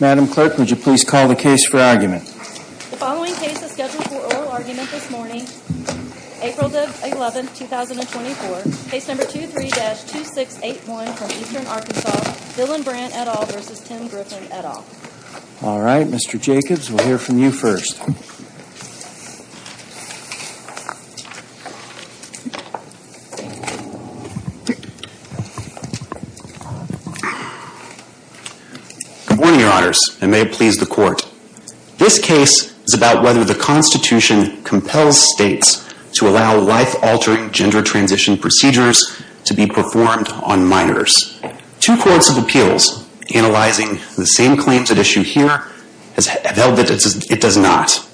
Madam Clerk, would you please call the case for argument? The following case is scheduled for oral argument this morning, April 11, 2024, Case No. 23-2681 from Eastern Arkansas, Dylan Brandt et al. v. Tim Griffin et al. All right, Mr. Jacobs, we'll hear from you first. Good morning, Your Honors, and may it please the Court. This case is about whether the Constitution compels states to allow life-altering gender transition procedures to be performed on minors. Two courts of appeals analyzing the same claims at issue here have held that it does not.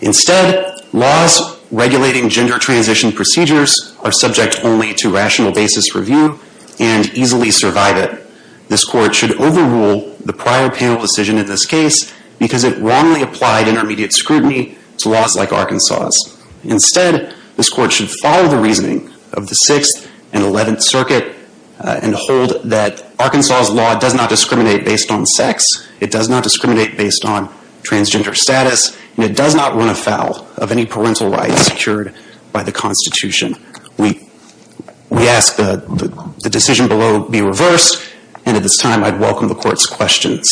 Instead, laws regulating gender transition procedures are subject only to rational basis review and easily survive it. This Court should overrule the prior panel decision in this case because it wrongly applied intermediate scrutiny to laws like Arkansas'. Instead, this Court should follow the reasoning of the Sixth and Eleventh Circuit and hold that Arkansas' law does not discriminate based on sex, it does not discriminate based on transgender status, and it does not run afoul of any parental rights secured by the Constitution. We ask that the decision below be reversed, and at this time, I'd welcome the Court's questions.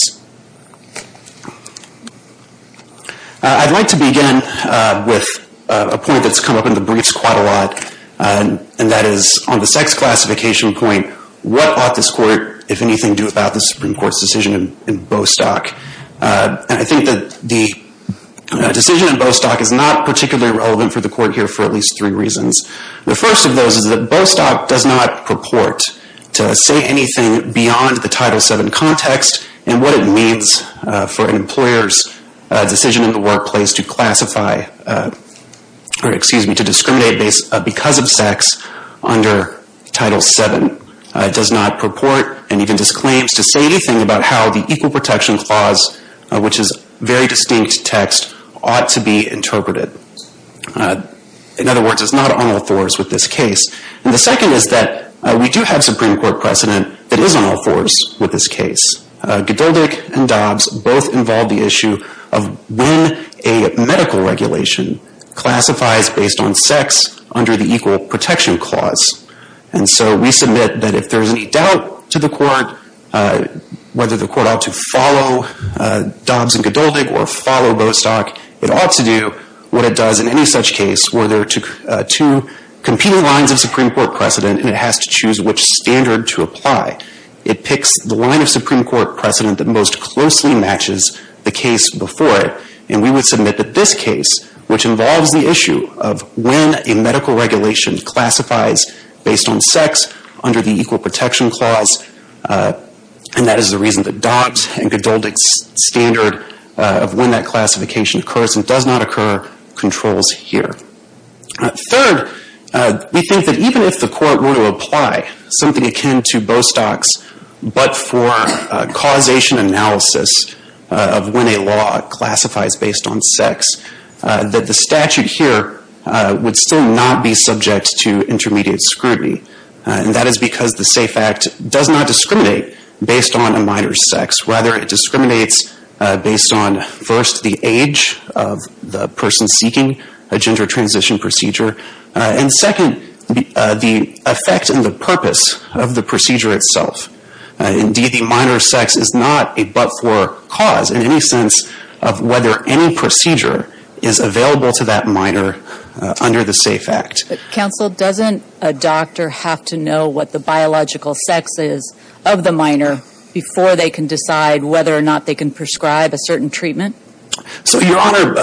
I'd like to begin with a point that's come up in the briefs quite a lot, and that is on the sex classification point, what ought this Court, if anything, to do about the Supreme Court's decision in Bostock? And I think that the decision in Bostock is not particularly relevant for the Court here for at least three reasons. The first of those is that Bostock does not purport to say anything beyond the Title VII context and what it means for an employer's decision in the workplace to classify, or excuse me, to discriminate because of sex under Title VII. It does not purport, and even disclaims, to say anything about how the Equal Protection Clause, which is a very distinct text, ought to be interpreted. In other words, it's not on all fours with this case. And the second is that we do have Supreme Court precedent that is on all fours with this case. Godoldick and Dobbs both involve the issue of when a medical regulation classifies based on sex under the Equal Protection Clause. And so we submit that if there's any doubt to the Court whether the Court ought to follow Dobbs and Godoldick or follow Bostock, it ought to do what it does in any such case where there are two competing lines of Supreme Court precedent and it has to choose which standard to apply. It picks the line of Supreme Court precedent that most closely matches the case before it. And we would submit that this case, which involves the issue of when a medical regulation classifies based on sex under the Equal Protection Clause, and that is the reason that Dobbs and Godoldick's standard of when that classification occurs and does not occur controls here. Third, we think that even if the Court were to apply something akin to Bostock's but for causation analysis of when a law classifies based on sex, that the statute here would still not be subject to intermediate scrutiny. And that is because the SAFE Act does not discriminate based on a minor's sex. Rather, it discriminates based on, first, the age of the person seeking a gender transition procedure, and second, the effect and the purpose of the procedure itself. Indeed, the minor's sex is not a but-for cause in any sense of whether any procedure is available to that minor under the SAFE Act. Counsel, doesn't a doctor have to know what the biological sex is of the minor before they can decide whether or not they can prescribe a certain treatment? So, Your Honor,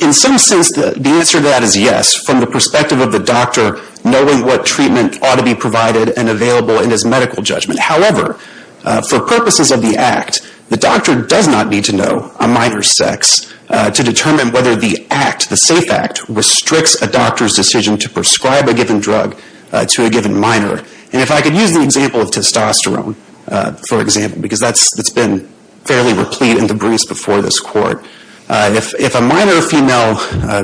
in some sense, the answer to that is yes, from the perspective of the doctor knowing what treatment ought to be provided and available in his medical judgment. However, for purposes of the Act, the doctor does not need to know a minor's sex to determine whether the Act, the SAFE Act, restricts a doctor's decision to prescribe a given drug to a given minor. And if I could use the example of testosterone, for example, because that's been fairly replete in the briefs before this Court. If a minor female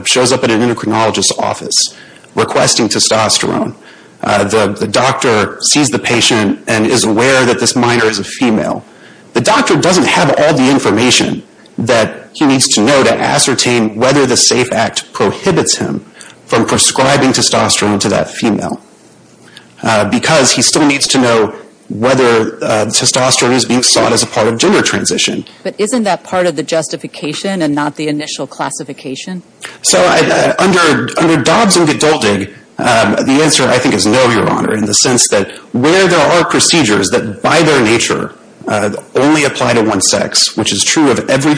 shows up at an endocrinologist's office requesting testosterone, the doctor sees the patient and is aware that this minor is a female. The doctor doesn't have all the information that he needs to know to ascertain whether the SAFE Act prohibits him from prescribing testosterone to that female because he still needs to know whether testosterone is being sought as a part of gender transition. But isn't that part of the justification and not the initial classification? So, under Dobbs and Geduldig, the answer, I think, is no, Your Honor, in the sense that where there are procedures that, by their nature, only apply to one sex, which is true of every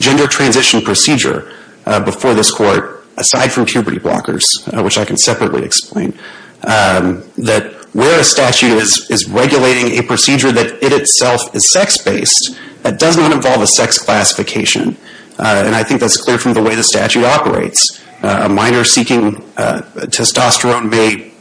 gender transition procedure before this Court, aside from puberty blockers, which I can separately explain, that where a statute is regulating a procedure that, in itself, is sex-based, that does not involve a sex classification. And I think that's clear from the way the statute operates. A minor seeking testosterone may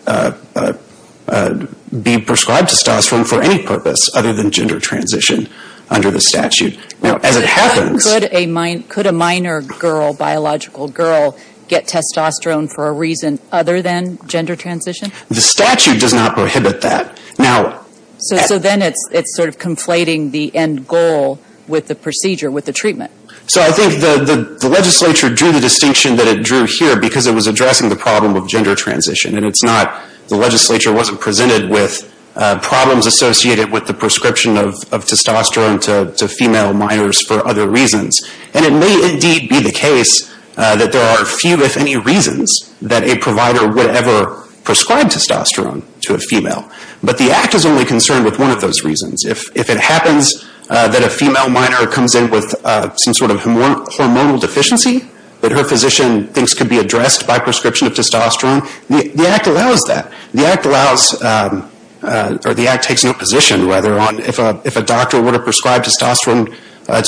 be prescribed testosterone for any purpose other than gender transition under the statute. Now, as it happens... Could a minor girl, biological girl, get testosterone for a reason other than gender transition? The statute does not prohibit that. Now... So then it's sort of conflating the end goal with the procedure, with the treatment. So I think the legislature drew the distinction that it drew here because it was addressing the problem of gender transition. And it's not... The legislature wasn't presented with problems associated with the prescription of testosterone to female minors for other reasons. And it may, indeed, be the case that there are few, if any, reasons that a provider would ever prescribe testosterone to a female. But the Act is only concerned with one of those reasons. If it happens that a female minor comes in with some sort of hormonal deficiency that her physician thinks could be addressed by prescription of testosterone, the Act allows that. The Act allows... Or the Act takes no position, rather, on if a doctor would have prescribed testosterone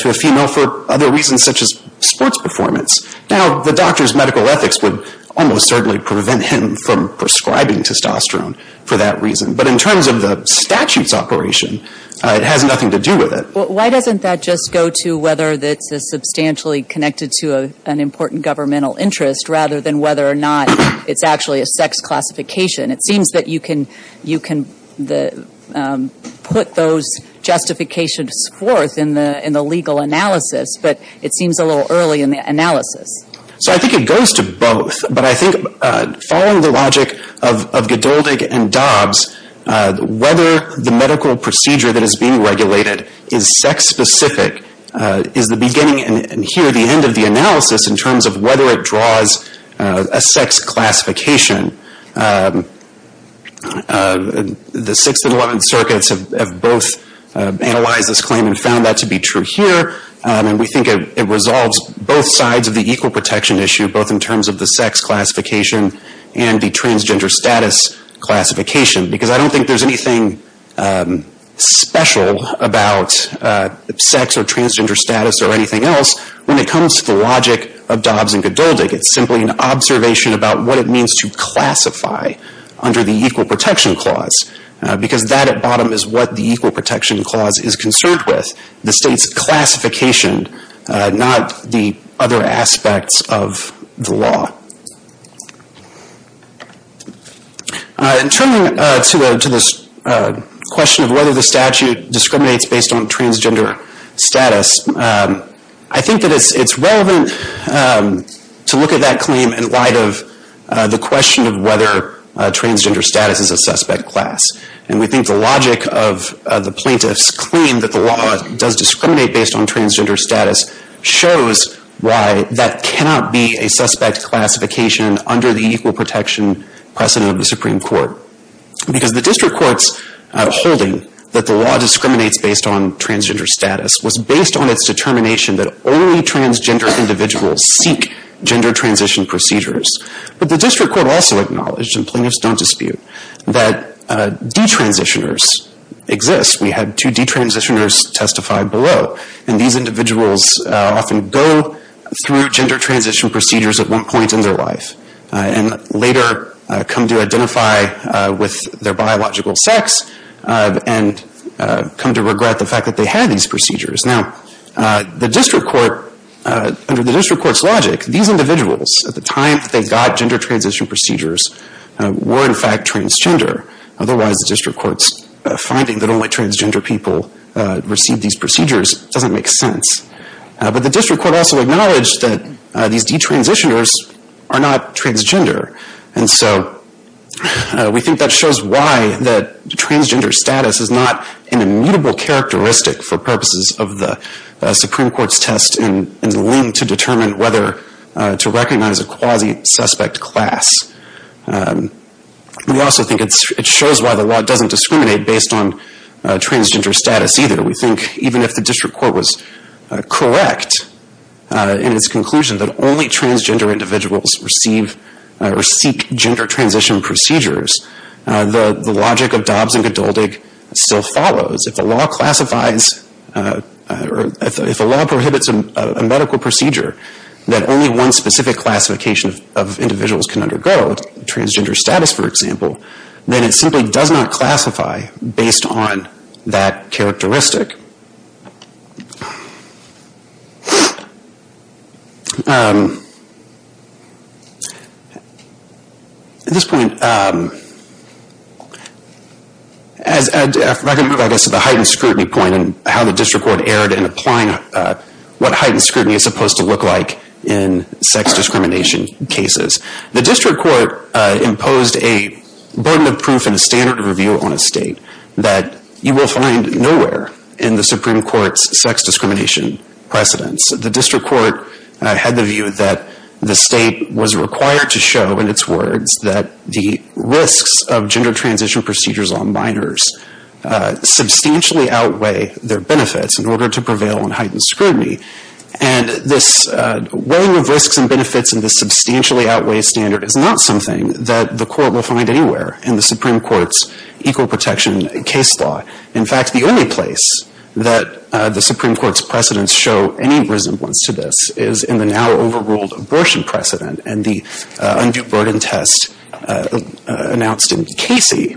to a female for other reasons such as sports performance. Now, the doctor's medical ethics would almost certainly prevent him from prescribing testosterone for that reason. But in terms of the statute's operation, it has nothing to do with it. Well, why doesn't that just go to whether it's substantially connected to an important governmental interest rather than whether or not it's actually a sex classification? It seems that you can put those justifications forth in the legal analysis. But it seems a little early in the analysis. So I think it goes to both. But I think following the logic of Godoldig and Dobbs, whether the medical procedure that is being regulated is sex-specific is the beginning and here the end of the analysis in terms of whether it draws a sex classification. The 6th and 11th circuits have both analyzed this claim and found that to be true here. And we think it resolves both sides of the equal protection issue, both in terms of the sex classification and the transgender status classification. Because I don't think there's anything special about sex or transgender status or anything else when it comes to the logic of Dobbs and Godoldig. It's simply an observation about what it means to classify under the equal protection clause. Because that at bottom is what the equal protection clause is concerned with. The state's classification, not the other aspects of the law. In turning to this question of whether the statute discriminates based on transgender status, I think that it's relevant to look at that claim in light of the question of whether transgender status is a suspect class. And we think the logic of the plaintiff's claim that the law does discriminate based on transgender status shows why that cannot be a suspect classification under the equal protection precedent of the Supreme Court. Because the district court's holding that the law discriminates based on transgender status was based on its determination that only transgender individuals seek gender transition procedures. But the district court also acknowledged, and plaintiffs don't dispute, that detransitioners exist. We had two detransitioners testify below. And these individuals often go through gender transition procedures at one point in their life. And later come to identify with their biological sex. And come to regret the fact that they had these procedures. Now, the district court, under the district court's logic, these individuals, at the time that they got gender transition procedures, were in fact transgender. Otherwise, the district court's finding that only transgender people received these procedures doesn't make sense. But the district court also acknowledged that these detransitioners are not transgender. And so, we think that shows why the transgender status is not an immutable characteristic for purposes of the Supreme Court's test in the link to determine whether to recognize a quasi-suspect class. We also think it shows why the law doesn't discriminate based on transgender status either. We think even if the district court was correct in its conclusion that only transgender individuals receive or seek gender transition procedures, the logic of Dobbs and Godoldig still follows. If a law classifies, if a law prohibits a medical procedure that only one specific classification of individuals can undergo, transgender status, for example, then it simply does not classify based on that characteristic. At this point, I can move, I guess, to the heightened scrutiny point and how the district court erred in applying what heightened scrutiny is supposed to look like in sex discrimination cases. The district court imposed a burden of proof and a standard of review on a state that you will find nowhere in the Supreme Court's sex discrimination precedence. The district court had the view that the state was required to show, in its words, that the risks of gender transition procedures on minors substantially outweigh their benefits in order to prevail on heightened scrutiny. And this weighing of risks and benefits in this substantially outweigh standard is not something that the court will find anywhere in the Supreme Court's equal protection case law. In fact, the only place that the Supreme Court's precedence show any resemblance to this is in the now overruled abortion precedent and the undue burden test announced in Casey.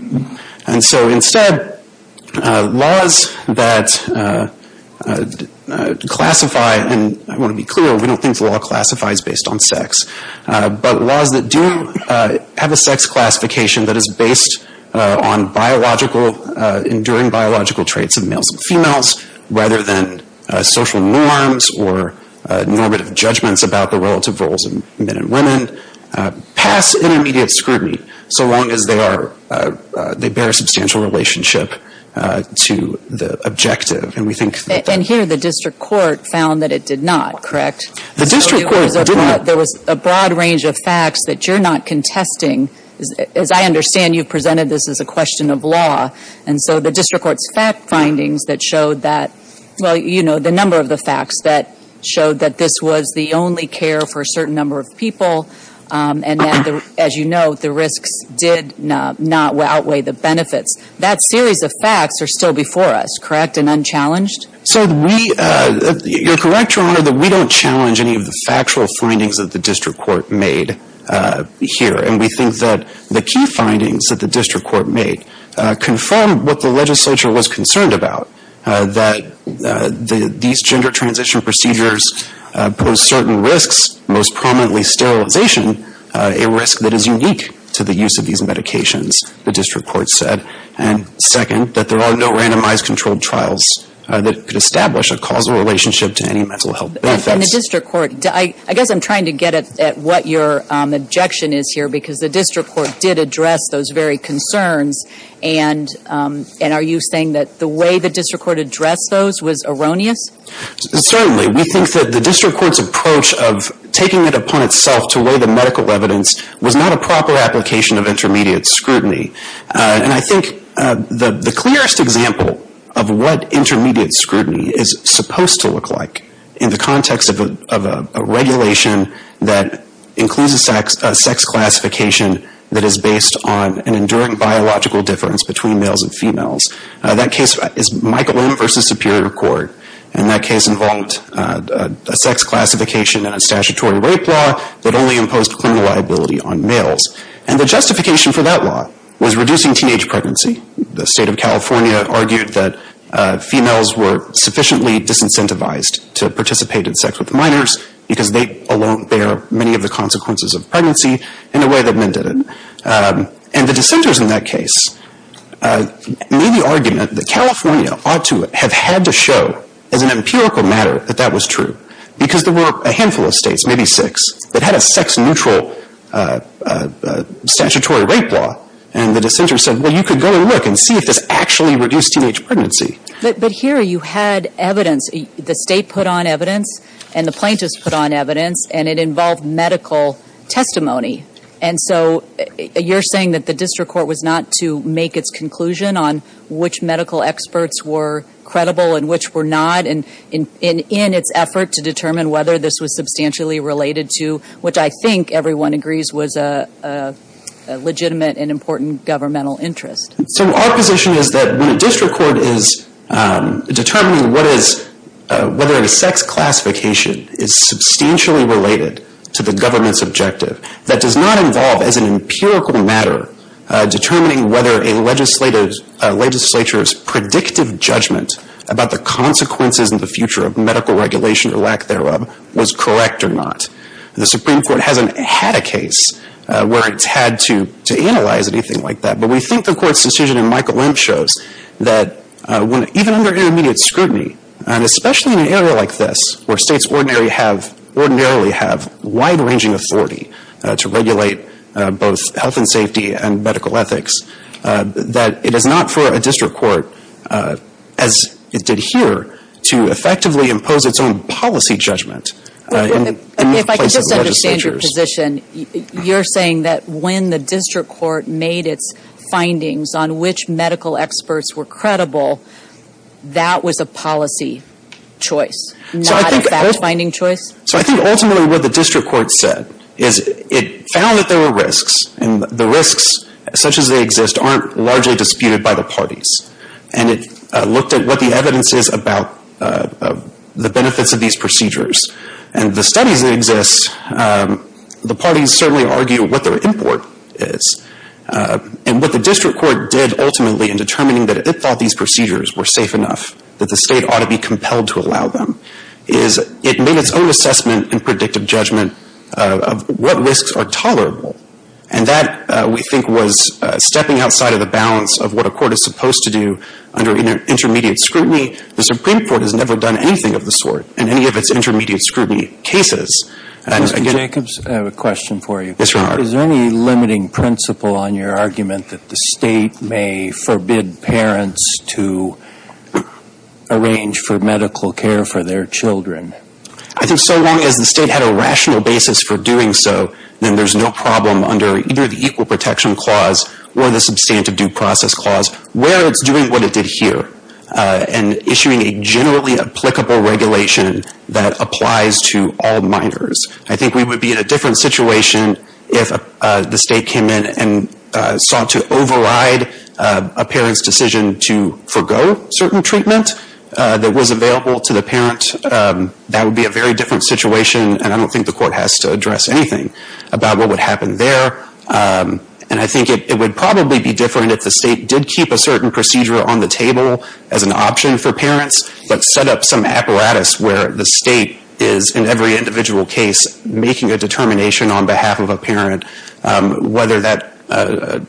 And so instead, laws that classify, and I want to be clear, we don't think the law classifies based on sex, but laws that do have a sex classification that is based on biological, enduring biological traits of males and females, rather than social norms or normative judgments about the relative roles of men and women, pass intermediate scrutiny so long as they are, they bear a substantial relationship to the objective. And we think that that. And here the district court found that it did not, correct? The district court did not. There was a broad range of facts that you're not contesting. As I understand, you presented this as a question of law. And so the district court's findings that showed that, well, you know, the number of the facts that showed that this was the only care for a certain number of people and that, as you know, the risks did not outweigh the benefits, that series of facts are still before us, correct, and unchallenged? So we, you're correct, Your Honor, that we don't challenge any of the factual findings that the district court made here. And we think that the key findings that the district court made confirmed what the legislature was concerned about, that these gender transition procedures pose certain risks, most prominently sterilization, a risk that is unique to the use of these medications, the district court said. And second, that there are no randomized controlled trials that could establish a causal relationship to any mental health benefits. And the district court, I guess I'm trying to get at what your objection is here because the district court did address those very concerns. And are you saying that the way the district court addressed those was erroneous? Certainly. We think that the district court's approach of taking it upon itself to weigh the medical evidence was not a proper application of intermediate scrutiny. And I think the clearest example of what intermediate scrutiny is supposed to look like in the context of a regulation that includes a sex classification that is based on an enduring biological difference between males and females. That case is Michelin versus Superior Court. And that case involved a sex classification and a statutory rape law that only imposed criminal liability on males. And the justification for that law was reducing teenage pregnancy. The state of California argued that females were sufficiently disincentivized to participate in sex with minors because they alone bear many of the consequences of pregnancy in a way that men didn't. And the dissenters in that case made the argument that California ought to have had to show as an empirical matter that that was true because there were a handful of states, maybe six, that had a sex-neutral statutory rape law. And the dissenters said, well, you could go and look and see if this actually reduced teenage pregnancy. But here you had evidence, the state put on evidence and the plaintiffs put on evidence and it involved medical testimony. And so you're saying that the district court was not to make its conclusion on which medical experts were credible and which were not in its effort to determine whether this was substantially related to, which I think everyone agrees was a legitimate and important governmental interest. So our position is that when a district court is determining what is, whether a sex classification is substantially related to the government's objective, that does not involve as an empirical matter determining whether a legislative, a legislature's predictive judgment about the consequences in the future of medical regulation or lack thereof was correct or not. The Supreme Court hasn't had a case where it's had to, to analyze anything like that. But we think the court's decision in Michael Lemp shows that when, even under intermediate scrutiny and especially in an area like this where states ordinarily have wide ranging authority to regulate both health and safety and medical ethics, that it is not for a district court as it did here to effectively impose its own policy judgment in the place of legislatures. If I could just understand your position, you're saying that when the district court made its medical experts were credible, that was a policy choice, not a fact finding choice? So I think ultimately what the district court said is it found that there were risks and the risks such as they exist aren't largely disputed by the parties. And it looked at what the evidence is about the benefits of these procedures. And the studies that exist, the parties certainly argue what their import is. And what the district court did ultimately in determining that it thought these procedures were safe enough, that the state ought to be compelled to allow them, is it made its own assessment and predictive judgment of what risks are tolerable. And that, we think, was stepping outside of the balance of what a court is supposed to do under intermediate scrutiny. The Supreme Court has never done anything of the sort in any of its intermediate scrutiny cases. Mr. Jacobs, I have a question for you. Yes, Your Honor. Is there any limiting principle on your argument that the state may forbid parents to arrange for medical care for their children? I think so long as the state had a rational basis for doing so, then there's no problem under either the Equal Protection Clause or the Substantive Due Process Clause where it's doing what it did here and issuing a generally applicable regulation that applies to all minors. I think we would be in a different situation if the state came in and sought to override a parent's decision to forego certain treatment that was available to the parent. That would be a very different situation, and I don't think the court has to address anything about what would happen there. And I think it would probably be different if the state did keep a certain procedure on the table as an option for parents, but set up some apparatus where the state is in every individual case making a determination on behalf of a parent whether that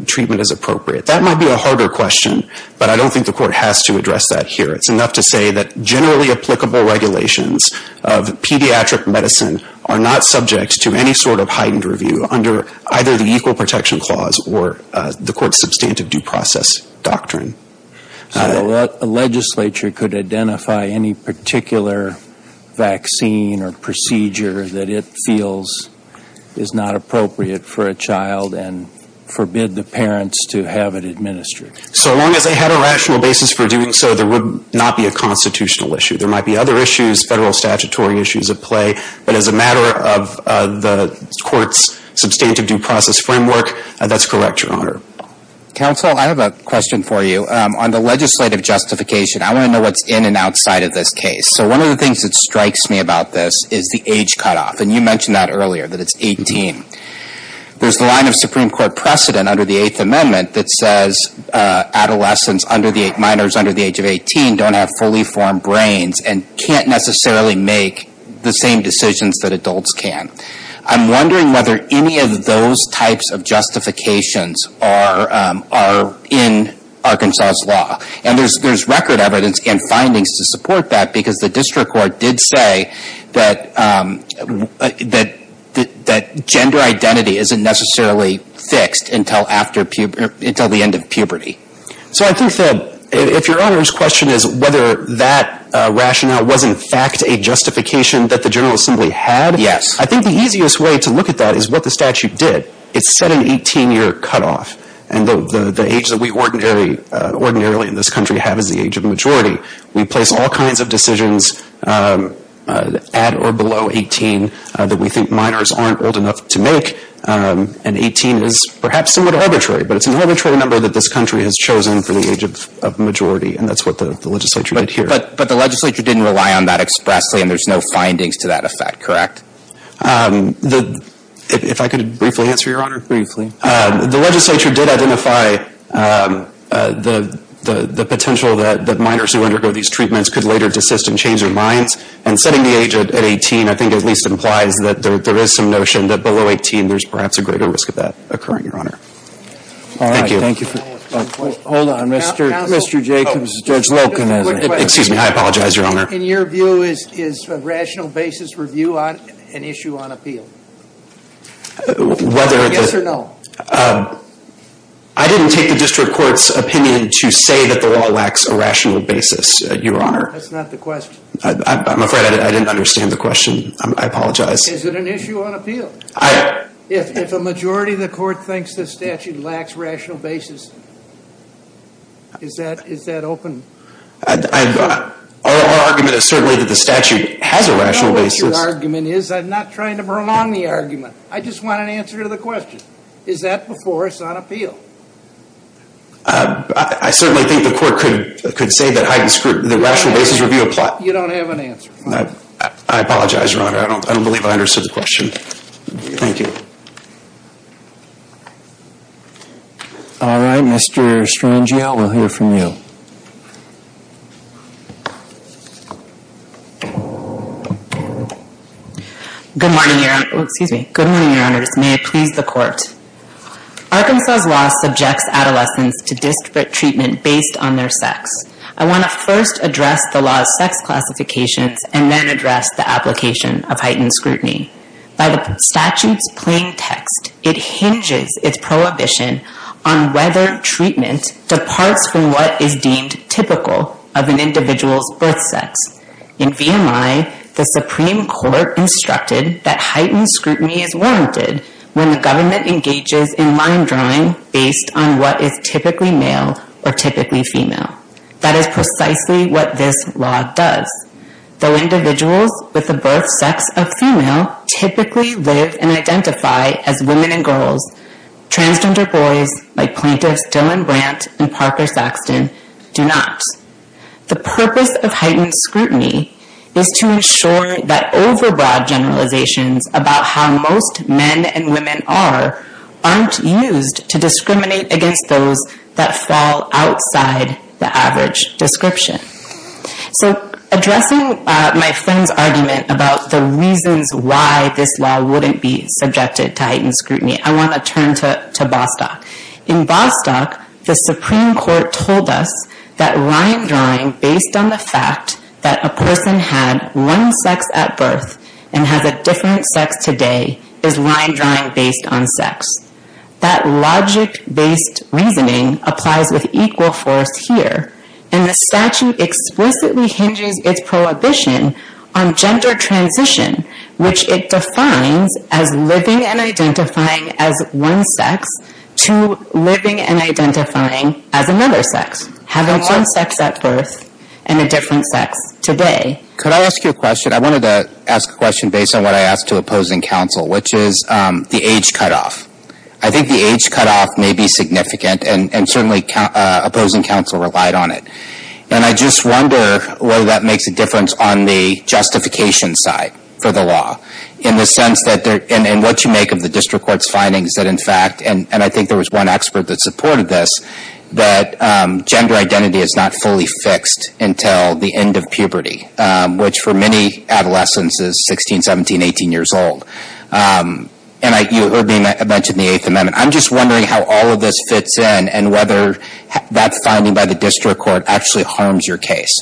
treatment is appropriate. That might be a harder question, but I don't think the court has to address that here. It's enough to say that generally applicable regulations of pediatric medicine are not subject to any sort of heightened review under either the Equal Protection Clause or the court's Substantive Due Process Doctrine. So a legislature could identify any particular vaccine or procedure that it feels is not appropriate for a child and forbid the parents to have it administered. So long as they had a rational basis for doing so, there would not be a constitutional issue. There might be other issues, federal statutory issues at play, but as a matter of the court's Substantive Due Process Framework, that's correct, Your Honor. Counsel, I have a question for you. On the legislative justification, I want to know what's in and outside of this case. So one of the things that strikes me about this is the age cutoff, and you mentioned that earlier, that it's 18. There's a line of Supreme Court precedent under the Eighth Amendment that says adolescents under the age, minors under the age of 18 don't have fully formed brains and can't necessarily make the same decisions that adults can. I'm wondering whether any of those types of justifications are in Arkansas' law. And there's record evidence and findings to support that because the district court did say that gender identity isn't necessarily fixed until the end of puberty. So I think that, if Your Honor's question is whether that rationale was in fact a justification that the General Assembly had, I think the easiest way to look at that is what the statute did. It set an 18-year cutoff. And the age that we ordinarily in this country have is the age of majority. We place all kinds of decisions at or below 18 that we think minors aren't old enough to make, and 18 is perhaps somewhat arbitrary, but it's an arbitrary number that this country has chosen for the age of majority, and that's what the legislature did here. But the legislature didn't rely on that expressly, and there's no findings to that effect, correct? If I could briefly answer, Your Honor. Briefly. The legislature did identify the potential that minors who undergo these treatments could later desist and change their minds. And setting the age at 18, I think at least implies that there is some notion that below 18 there's perhaps a greater risk of that occurring, Your Honor. Thank you. Hold on, Mr. Jacobs, Judge Wilken has a question. Excuse me, I apologize, Your Honor. In your view, is a rational basis review an issue on appeal? Yes or no? I didn't take the district court's opinion to say that the law lacks a rational basis, Your Honor. That's not the question. I'm afraid I didn't understand the question. I apologize. Is it an issue on appeal? If a majority of the court thinks the statute lacks rational basis, is that open? Our argument is certainly that the statute has a rational basis. I know what your argument is. I'm not trying to prolong the argument. I just want an answer to the question. Is that before us on appeal? I certainly think the court could say that the rational basis review applies. You don't have an answer. I apologize, Your Honor. I don't believe I understood the question. Thank you. All right, Mr. Strangiel, we'll hear from you. Good morning, Your Honor. Excuse me. Good morning, Your Honors. May it please the court. Arkansas' law subjects adolescents to disparate treatment based on their sex. I want to first address the law's sex classifications and then address the application of heightened scrutiny. By the statute's plain text, it hinges its prohibition on whether treatment departs from what is deemed typical of an individual's birth sex. In VMI, the Supreme Court instructed that heightened scrutiny is warranted when the government engages in line drawing based on what is typically male or typically female. That is precisely what this law does. Though individuals with a birth sex of female typically live and identify as women and girls, transgender boys like plaintiffs Dylan Brandt and Parker Saxton do not. The purpose of heightened scrutiny is to ensure that overbroad generalizations about how most men and women are aren't used to discriminate against those that fall outside the average description. So addressing my friend's argument about the reasons why this law wouldn't be subjected to heightened scrutiny, I want to turn to Bostock. In Bostock, the Supreme Court told us that line drawing based on the fact that a person had one sex at birth and has a different sex today is line drawing based on sex. That logic-based reasoning applies with equal force here. And the statute explicitly hinges its prohibition on gender transition, which it defines as living and identifying as one sex to living and identifying as another sex, having one sex at birth and a different sex today. Could I ask you a question? I wanted to ask a question based on what I asked to opposing counsel, which is the age cutoff. I think the age cutoff may be significant and certainly opposing counsel relied on it. And I just wonder whether that makes a difference on the justification side for the law in the sense that, and what you make of the district court's findings that, in fact, and I think there was one expert that supported this, that gender identity is not fully fixed until the end of puberty, which for many adolescents is 16, 17, 18 years old. And you mentioned the Eighth Amendment. I'm just wondering how all of this fits in and whether that's finding by the district court actually harms your case.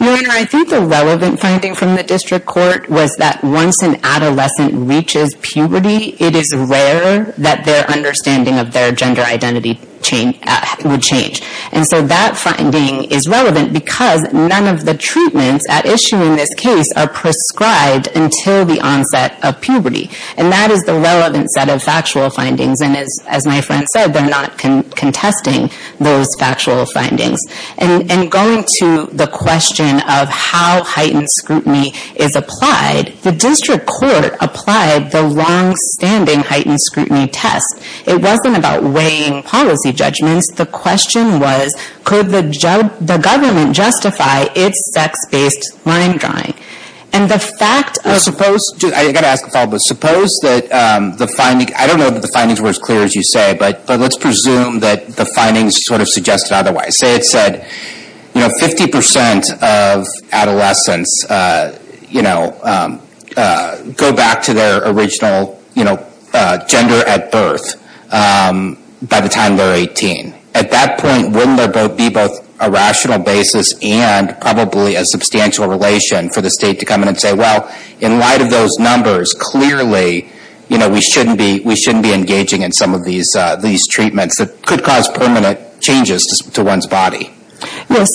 I think the relevant finding from the district court was that once an adolescent reaches puberty, it is rare that their understanding of their gender identity chain would change. And so that finding is relevant because none of the treatments at issuing this case are prescribed until the onset of puberty. And that is the relevant set of factual findings. And as my friend said, they're not contesting those factual findings. And going to the question of how heightened scrutiny is applied, the district court applied the longstanding heightened scrutiny test. It wasn't about weighing policy judgments. The question was, could the government justify its sex-based line drawing? And the fact of- I gotta ask a follow-up, but suppose that the finding, I don't know that the findings were as clear as you say, but let's presume that the findings sort of suggested otherwise. Say it said, 50% of adolescents go back to their original gender at birth by the time they're 18. At that point, wouldn't there be both a rational basis and probably a substantial relation for the state to come in and say, well, in light of those numbers, clearly we shouldn't be engaging in some of these treatments that could cause permanent changes to one's body? Yes,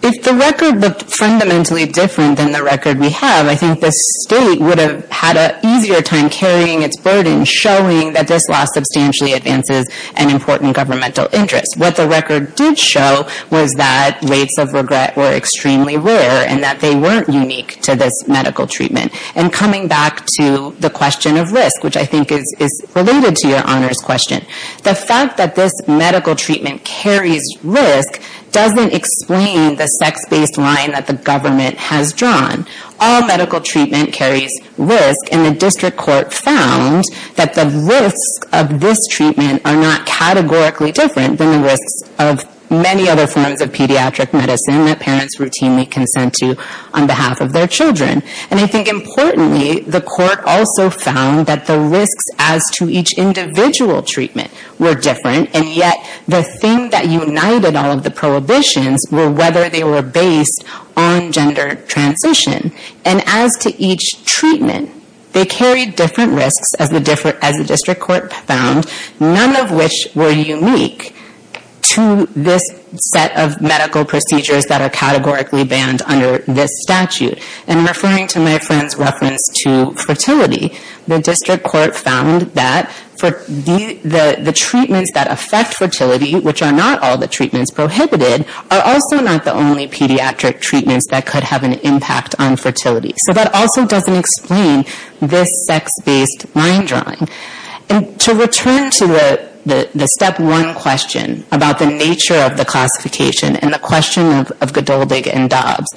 if the record looked fundamentally different than the record we have, I think the state would have had an easier time carrying its burden showing that this loss substantially advances an important governmental interest. What the record did show was that rates of regret were extremely rare and that they weren't unique to this medical treatment. And coming back to the question of risk, which I think is related to your honor's question. The fact that this medical treatment carries risk doesn't explain the sex-based line that the government has drawn. All medical treatment carries risk, and the district court found that the risks of this treatment are not categorically different than the risks of many other forms of pediatric medicine that parents routinely consent to on behalf of their children. And I think importantly, the court also found that the risks as to each individual treatment were different, and yet the thing that united all of the prohibitions were whether they were based on gender transition. And as to each treatment, they carried different risks as the district court found, none of which were unique to this set of medical procedures that are categorically banned under this statute. And referring to my friend's reference to fertility, the district court found that for the treatments that affect fertility, which are not all the treatments prohibited, are also not the only pediatric treatments that could have an impact on fertility. So that also doesn't explain this sex-based line drawing. And to return to the step one question about the nature of the classification and the question of Godoldig and Dobbs,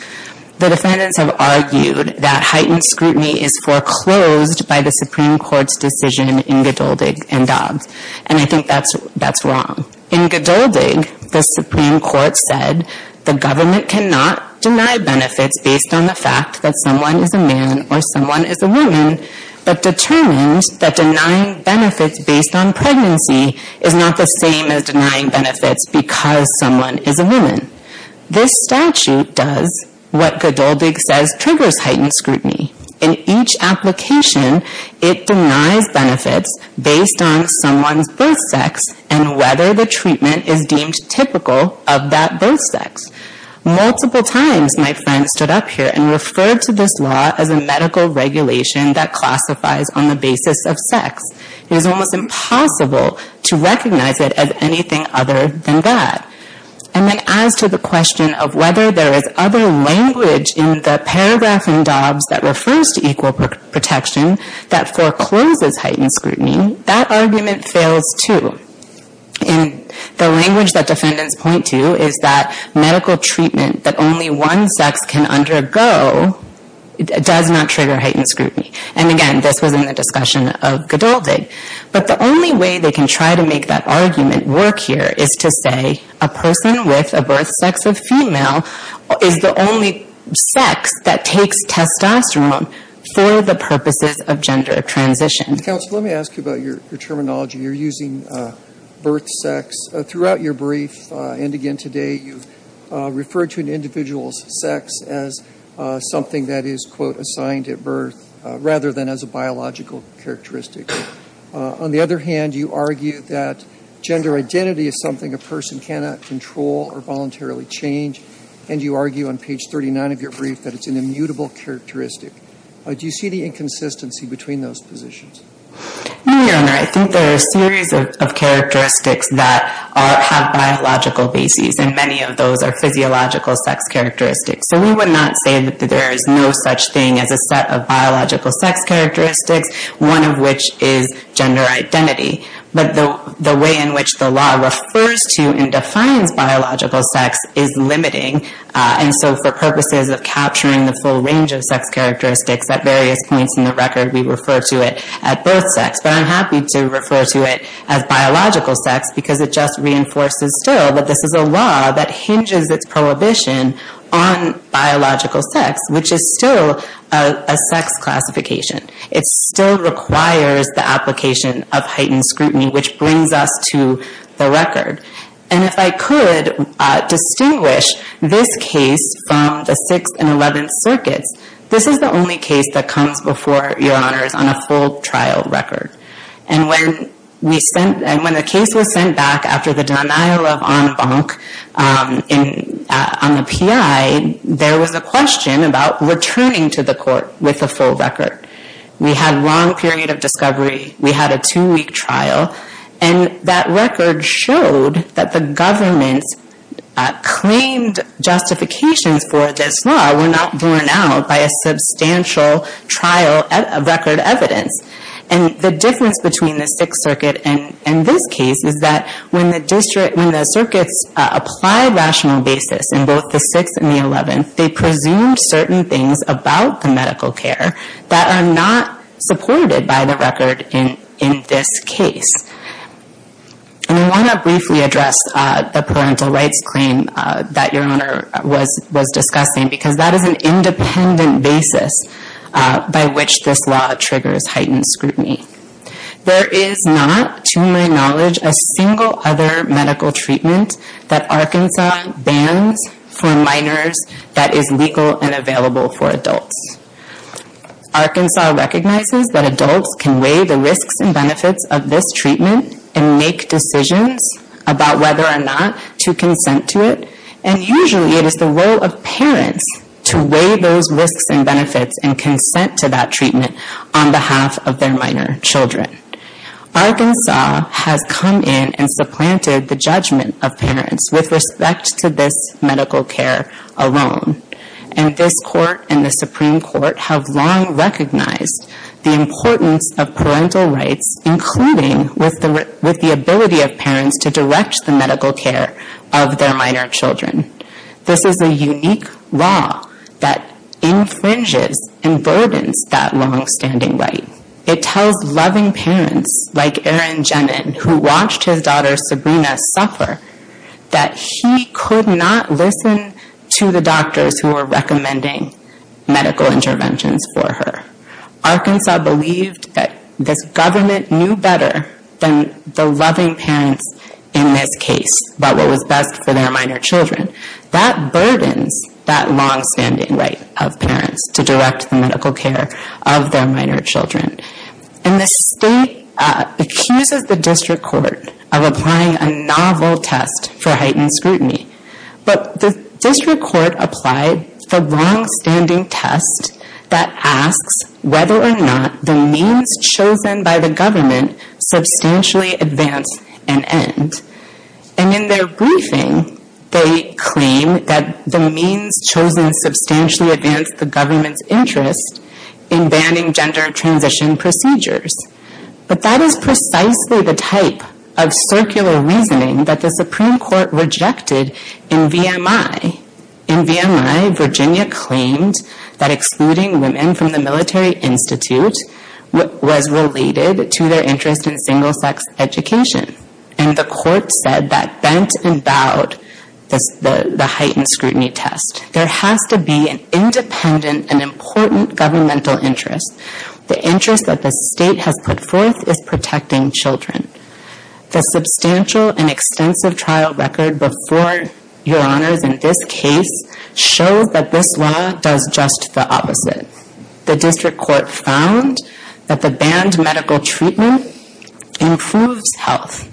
the defendants have argued that heightened scrutiny is foreclosed by the Supreme Court's decision in Godoldig and Dobbs, and I think that's wrong. In Godoldig, the Supreme Court said the government cannot deny benefits based on the fact that someone is a man or someone is a woman, but determined that denying benefits based on pregnancy is not the same as denying benefits because someone is a woman. This statute does what Godoldig says triggers heightened scrutiny. In each application, it denies benefits based on someone's birth sex and whether the treatment is deemed typical of that birth sex. Multiple times, my friend stood up here and referred to this law as a medical regulation that classifies on the basis of sex. It is almost impossible to recognize it as anything other than that. And then as to the question of whether there is other language in the paragraph in Dobbs that refers to equal protection that forecloses heightened scrutiny, that argument fails too. And the language that defendants point to is that medical treatment that only one sex can undergo does not trigger heightened scrutiny. And again, this was in the discussion of Godoldig. But the only way they can try to make that argument work here is to say, a person with a birth sex of female is the only sex that takes testosterone for the purposes of gender transition. Counsel, let me ask you about your terminology. You're using birth sex throughout your brief and again today. You've referred to an individual's sex as something that is, quote, assigned at birth rather than as a biological characteristic. On the other hand, you argue that gender identity is something a person cannot control or voluntarily change. And you argue on page 39 of your brief that it's an immutable characteristic. Do you see the inconsistency between those positions? No, Your Honor. I think there are a series of characteristics that have biological basis and many of those are physiological sex characteristics. So we would not say that there is no such thing as a set of biological sex characteristics, one of which is gender identity. But the way in which the law refers to and defines biological sex is limiting. And so for purposes of capturing the full range of sex characteristics at various points in the record, we refer to it at birth sex. But I'm happy to refer to it as biological sex because it just reinforces still that this is a law that hinges its prohibition on biological sex, which is still a sex classification. It still requires the application of heightened scrutiny, which brings us to the record. And if I could distinguish this case from the 6th and 11th circuits, this is the only case that comes before Your Honors on a full trial record. And when the case was sent back after the denial of en banc on the PI, there was a question about returning to the court with a full record. We had a long period of discovery, we had a two-week trial, and that record showed that the government's claimed justifications for this law were not borne out by a substantial trial of record evidence. And the difference between the 6th circuit and this case is that when the district, when the circuits applied rational basis in both the 6th and the 11th, they presumed certain things about the medical care that are not supported by the record in this case. And I want to briefly address the parental rights claim that Your Honor was discussing, because that is an independent basis by which this law triggers heightened scrutiny. There is not, to my knowledge, a single other medical treatment that Arkansas bans for minors that is legal and available for adults. Arkansas recognizes that adults can weigh the risks and benefits of this treatment and make decisions about whether or not to consent to it. And usually it is the role of parents to weigh those risks and on behalf of their minor children. Arkansas has come in and supplanted the judgment of parents with respect to this medical care alone, and this court and the Supreme Court have long recognized the importance of parental rights, including with the ability of parents to direct the medical care of their minor children. This is a unique law that infringes and burdens that long-standing right. It tells loving parents, like Aaron Jenen, who watched his daughter, Sabrina, suffer, that he could not listen to the doctors who were recommending medical interventions for her. Arkansas believed that this government knew better than the loving parents in this case about what was best for their minor children. That burdens that long-standing right of parents to direct the medical care of their minor children. And the state accuses the district court of applying a novel test for heightened scrutiny, but the district court applied the long-standing test that asks whether or not the means chosen by the government substantially advance and end. And in their briefing, they claim that the means chosen substantially advance the government's interest in banning gender transition procedures. But that is precisely the type of circular reasoning that the Supreme Court rejected in VMI. In VMI, Virginia claimed that excluding women from the military institute was related to their interest in single-sex education. And the court said that bent and bowed the heightened scrutiny test. There has to be an independent and important governmental interest. The interest that the state has put forth is protecting children. The substantial and extensive trial record before your honors in this case shows that this law does just the opposite. The district court found that the banned medical treatment improves health.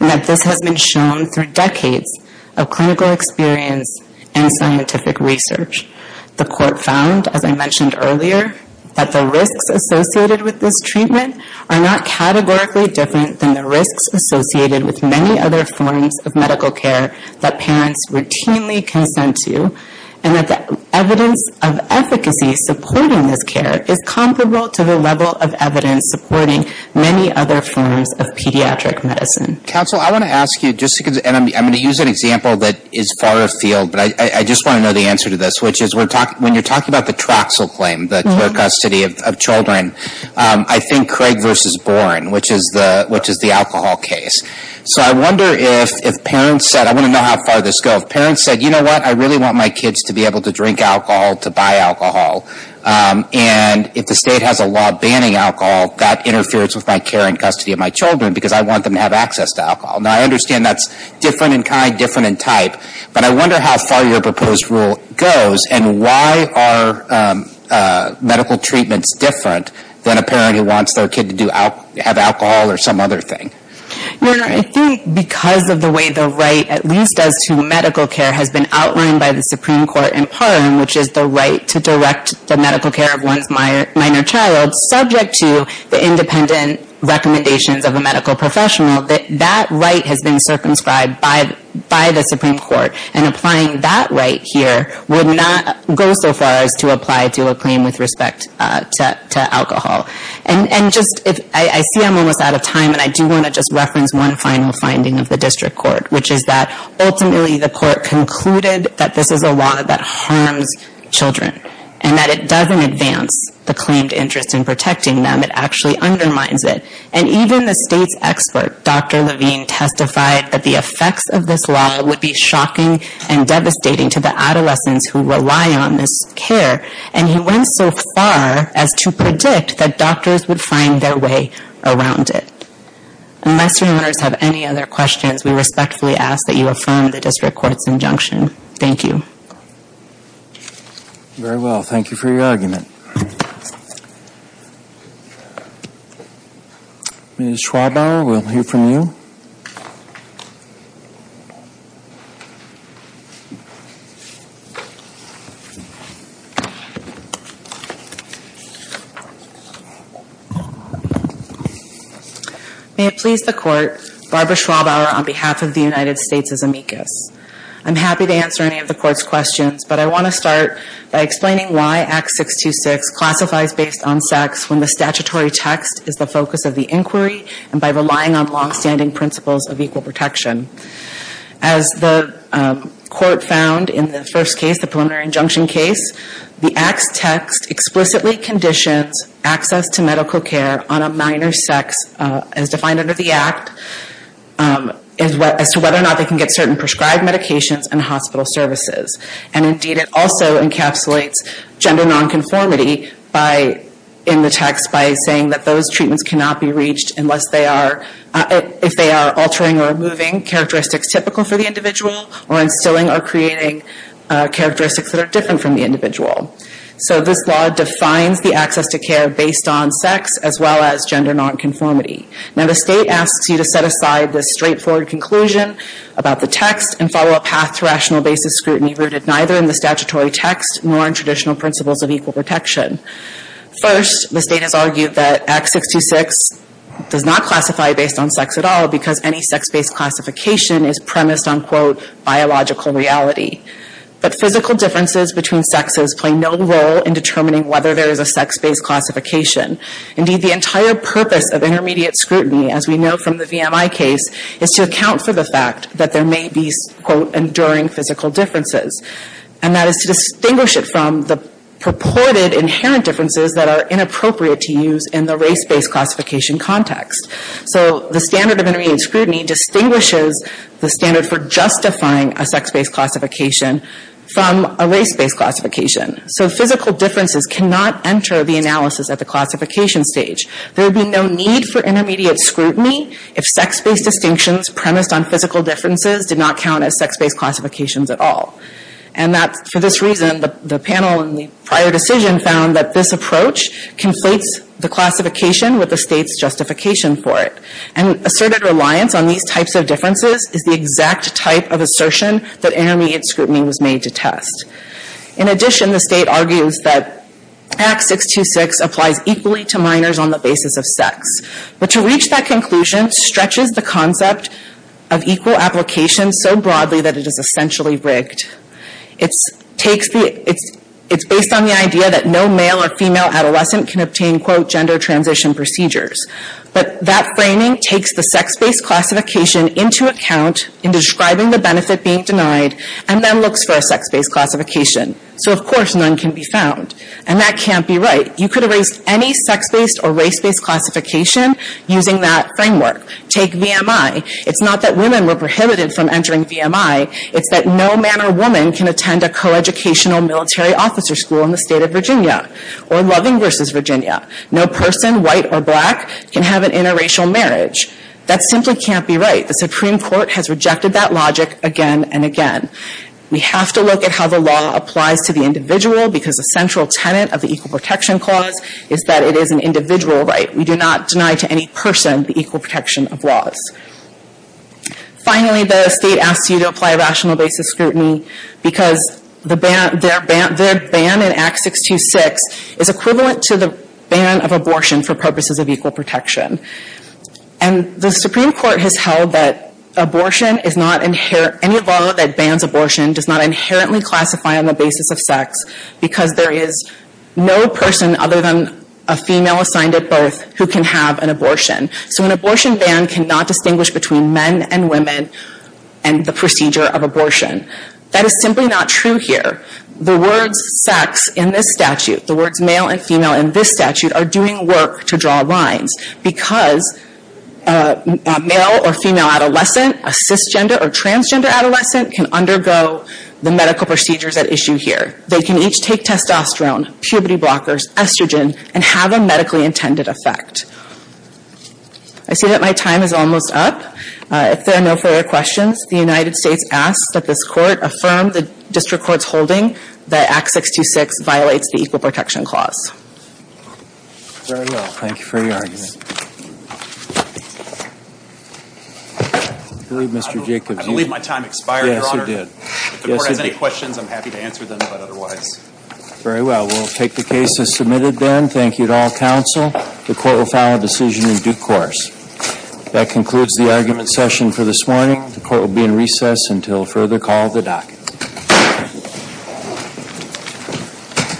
And that this has been shown through decades of clinical experience and scientific research. The court found, as I mentioned earlier, that the risks associated with this treatment are not categorically different than the risks associated with many other forms of medical care that parents routinely consent to. And that the evidence of efficacy supporting this care is comparable to the level of evidence supporting many other forms of pediatric medicine. Counsel, I want to ask you, just because, and I'm going to use an example that is far afield, but I just want to know the answer to this. Which is, when you're talking about the TRAXL claim, the care custody of children, I think Craig versus Bourne, which is the alcohol case. So I wonder if parents said, I want to know how far this goes. If parents said, you know what, I really want my kids to be able to drink alcohol, to buy alcohol, and if the state has a law banning alcohol, that interferes with my care and custody of my children because I want them to have access to alcohol. Now I understand that's different in kind, different in type. But I wonder how far your proposed rule goes, and why are medical treatments different than a parent who wants their kid to have alcohol or some other thing? I think because of the way the right, at least as to medical care, has been outlined by the Supreme Court in Parliament, which is the right to direct the medical care of one's minor child, subject to the independent recommendations of a medical professional, that that right has been circumscribed by the Supreme Court. And applying that right here would not go so far as to apply to a claim with respect to alcohol. And just, I see I'm almost out of time, and I do want to just reference one final finding of the district court, which is that ultimately the court concluded that this is a law that harms children, and that it doesn't advance the claimed interest in protecting them. It actually undermines it. And even the state's expert, Dr. Levine, testified that the effects of this law would be shocking and devastating to the adolescents who rely on this care, and he went so far as to predict that doctors would find their way around it. Unless your honors have any other questions, we respectfully ask that you affirm the district court's injunction. Thank you. Very well, thank you for your argument. Ms. Schwabauer, we'll hear from you. May it please the court, Barbara Schwabauer on behalf of the United States as amicus. I'm happy to answer any of the court's questions, but I want to start by explaining why Act 626 classifies based on sex when the statutory text is the focus of the inquiry, and by relying on longstanding principles of equal protection. As the court found in the first case, the preliminary injunction case, the Act's text explicitly conditions access to medical care on a minor sex, as defined under the Act, as to whether or not they can get certain prescribed medications and hospital services. And indeed, it also encapsulates gender nonconformity in the text by saying that those treatments cannot be reached unless they are, if they are altering or removing characteristics typical for the individual, or instilling or creating characteristics that are different from the individual. So this law defines the access to care based on sex, as well as gender nonconformity. Now the state asks you to set aside this straightforward conclusion about the text and follow a path to rational basis scrutiny rooted neither in the statutory text nor in traditional principles of equal protection. First, the state has argued that Act 626 does not classify based on sex at all, because any sex-based classification is premised on, quote, biological reality. But physical differences between sexes play no role in determining whether there is a sex-based classification. Indeed, the entire purpose of intermediate scrutiny, as we know from the VMI case, is to account for the fact that there may be, quote, enduring physical differences. And that is to distinguish it from the purported inherent differences that are inappropriate to use in the race-based classification context. So the standard of intermediate scrutiny distinguishes the standard for justifying a sex-based classification from a race-based classification. So physical differences cannot enter the analysis at the classification stage. There would be no need for intermediate scrutiny if sex-based distinctions premised on physical differences did not count as sex-based classifications at all. And that's for this reason the panel in the prior decision found that this And asserted reliance on these types of differences is the exact type of assertion that intermediate scrutiny was made to test. In addition, the state argues that Act 626 applies equally to minors on the basis of sex. But to reach that conclusion stretches the concept of equal application so broadly that it is essentially rigged. It's based on the idea that no male or female adolescent can obtain, quote, gender transition procedures. But that framing takes the sex-based classification into account in describing the benefit being denied and then looks for a sex-based classification. So, of course, none can be found. And that can't be right. You could erase any sex-based or race-based classification using that framework. Take VMI. It's not that women were prohibited from entering VMI. It's that no man or woman can attend a coeducational military officer school in the state of Virginia or Loving versus Virginia. No person, white or black, can have an interracial marriage. That simply can't be right. The Supreme Court has rejected that logic again and again. We have to look at how the law applies to the individual because the central tenet of the Equal Protection Clause is that it is an individual right. We do not deny to any person the equal protection of laws. Finally, the state asks you to apply rational basis scrutiny because the ban in Act 626 is equivalent to the ban of abortion for purposes of equal protection. And the Supreme Court has held that any law that bans abortion does not inherently classify on the basis of sex because there is no person other than a female assigned at birth who can have an abortion. So an abortion ban cannot distinguish between men and women and the procedure of abortion. That is simply not true here. The words sex in this statute, the words male and female in this statute are doing work to draw lines because a male or female adolescent, a cisgender or transgender adolescent can undergo the medical procedures at issue here. They can each take testosterone, puberty blockers, estrogen, and have a medically intended effect. I see that my time is almost up. If there are no further questions, the United States asks that this Court affirm the district court's holding that Act 626 violates the Equal Protection Clause. Very well. Thank you for your argument. I believe, Mr. Jacobs, you- I believe my time expired, Your Honor. Yes, it did. If the Court has any questions, I'm happy to answer them, but otherwise- Very well. We'll take the case as submitted then. Thank you to all counsel. The Court will file a decision in due course. That concludes the argument session for this morning. The Court will be in recess until further call of the docket.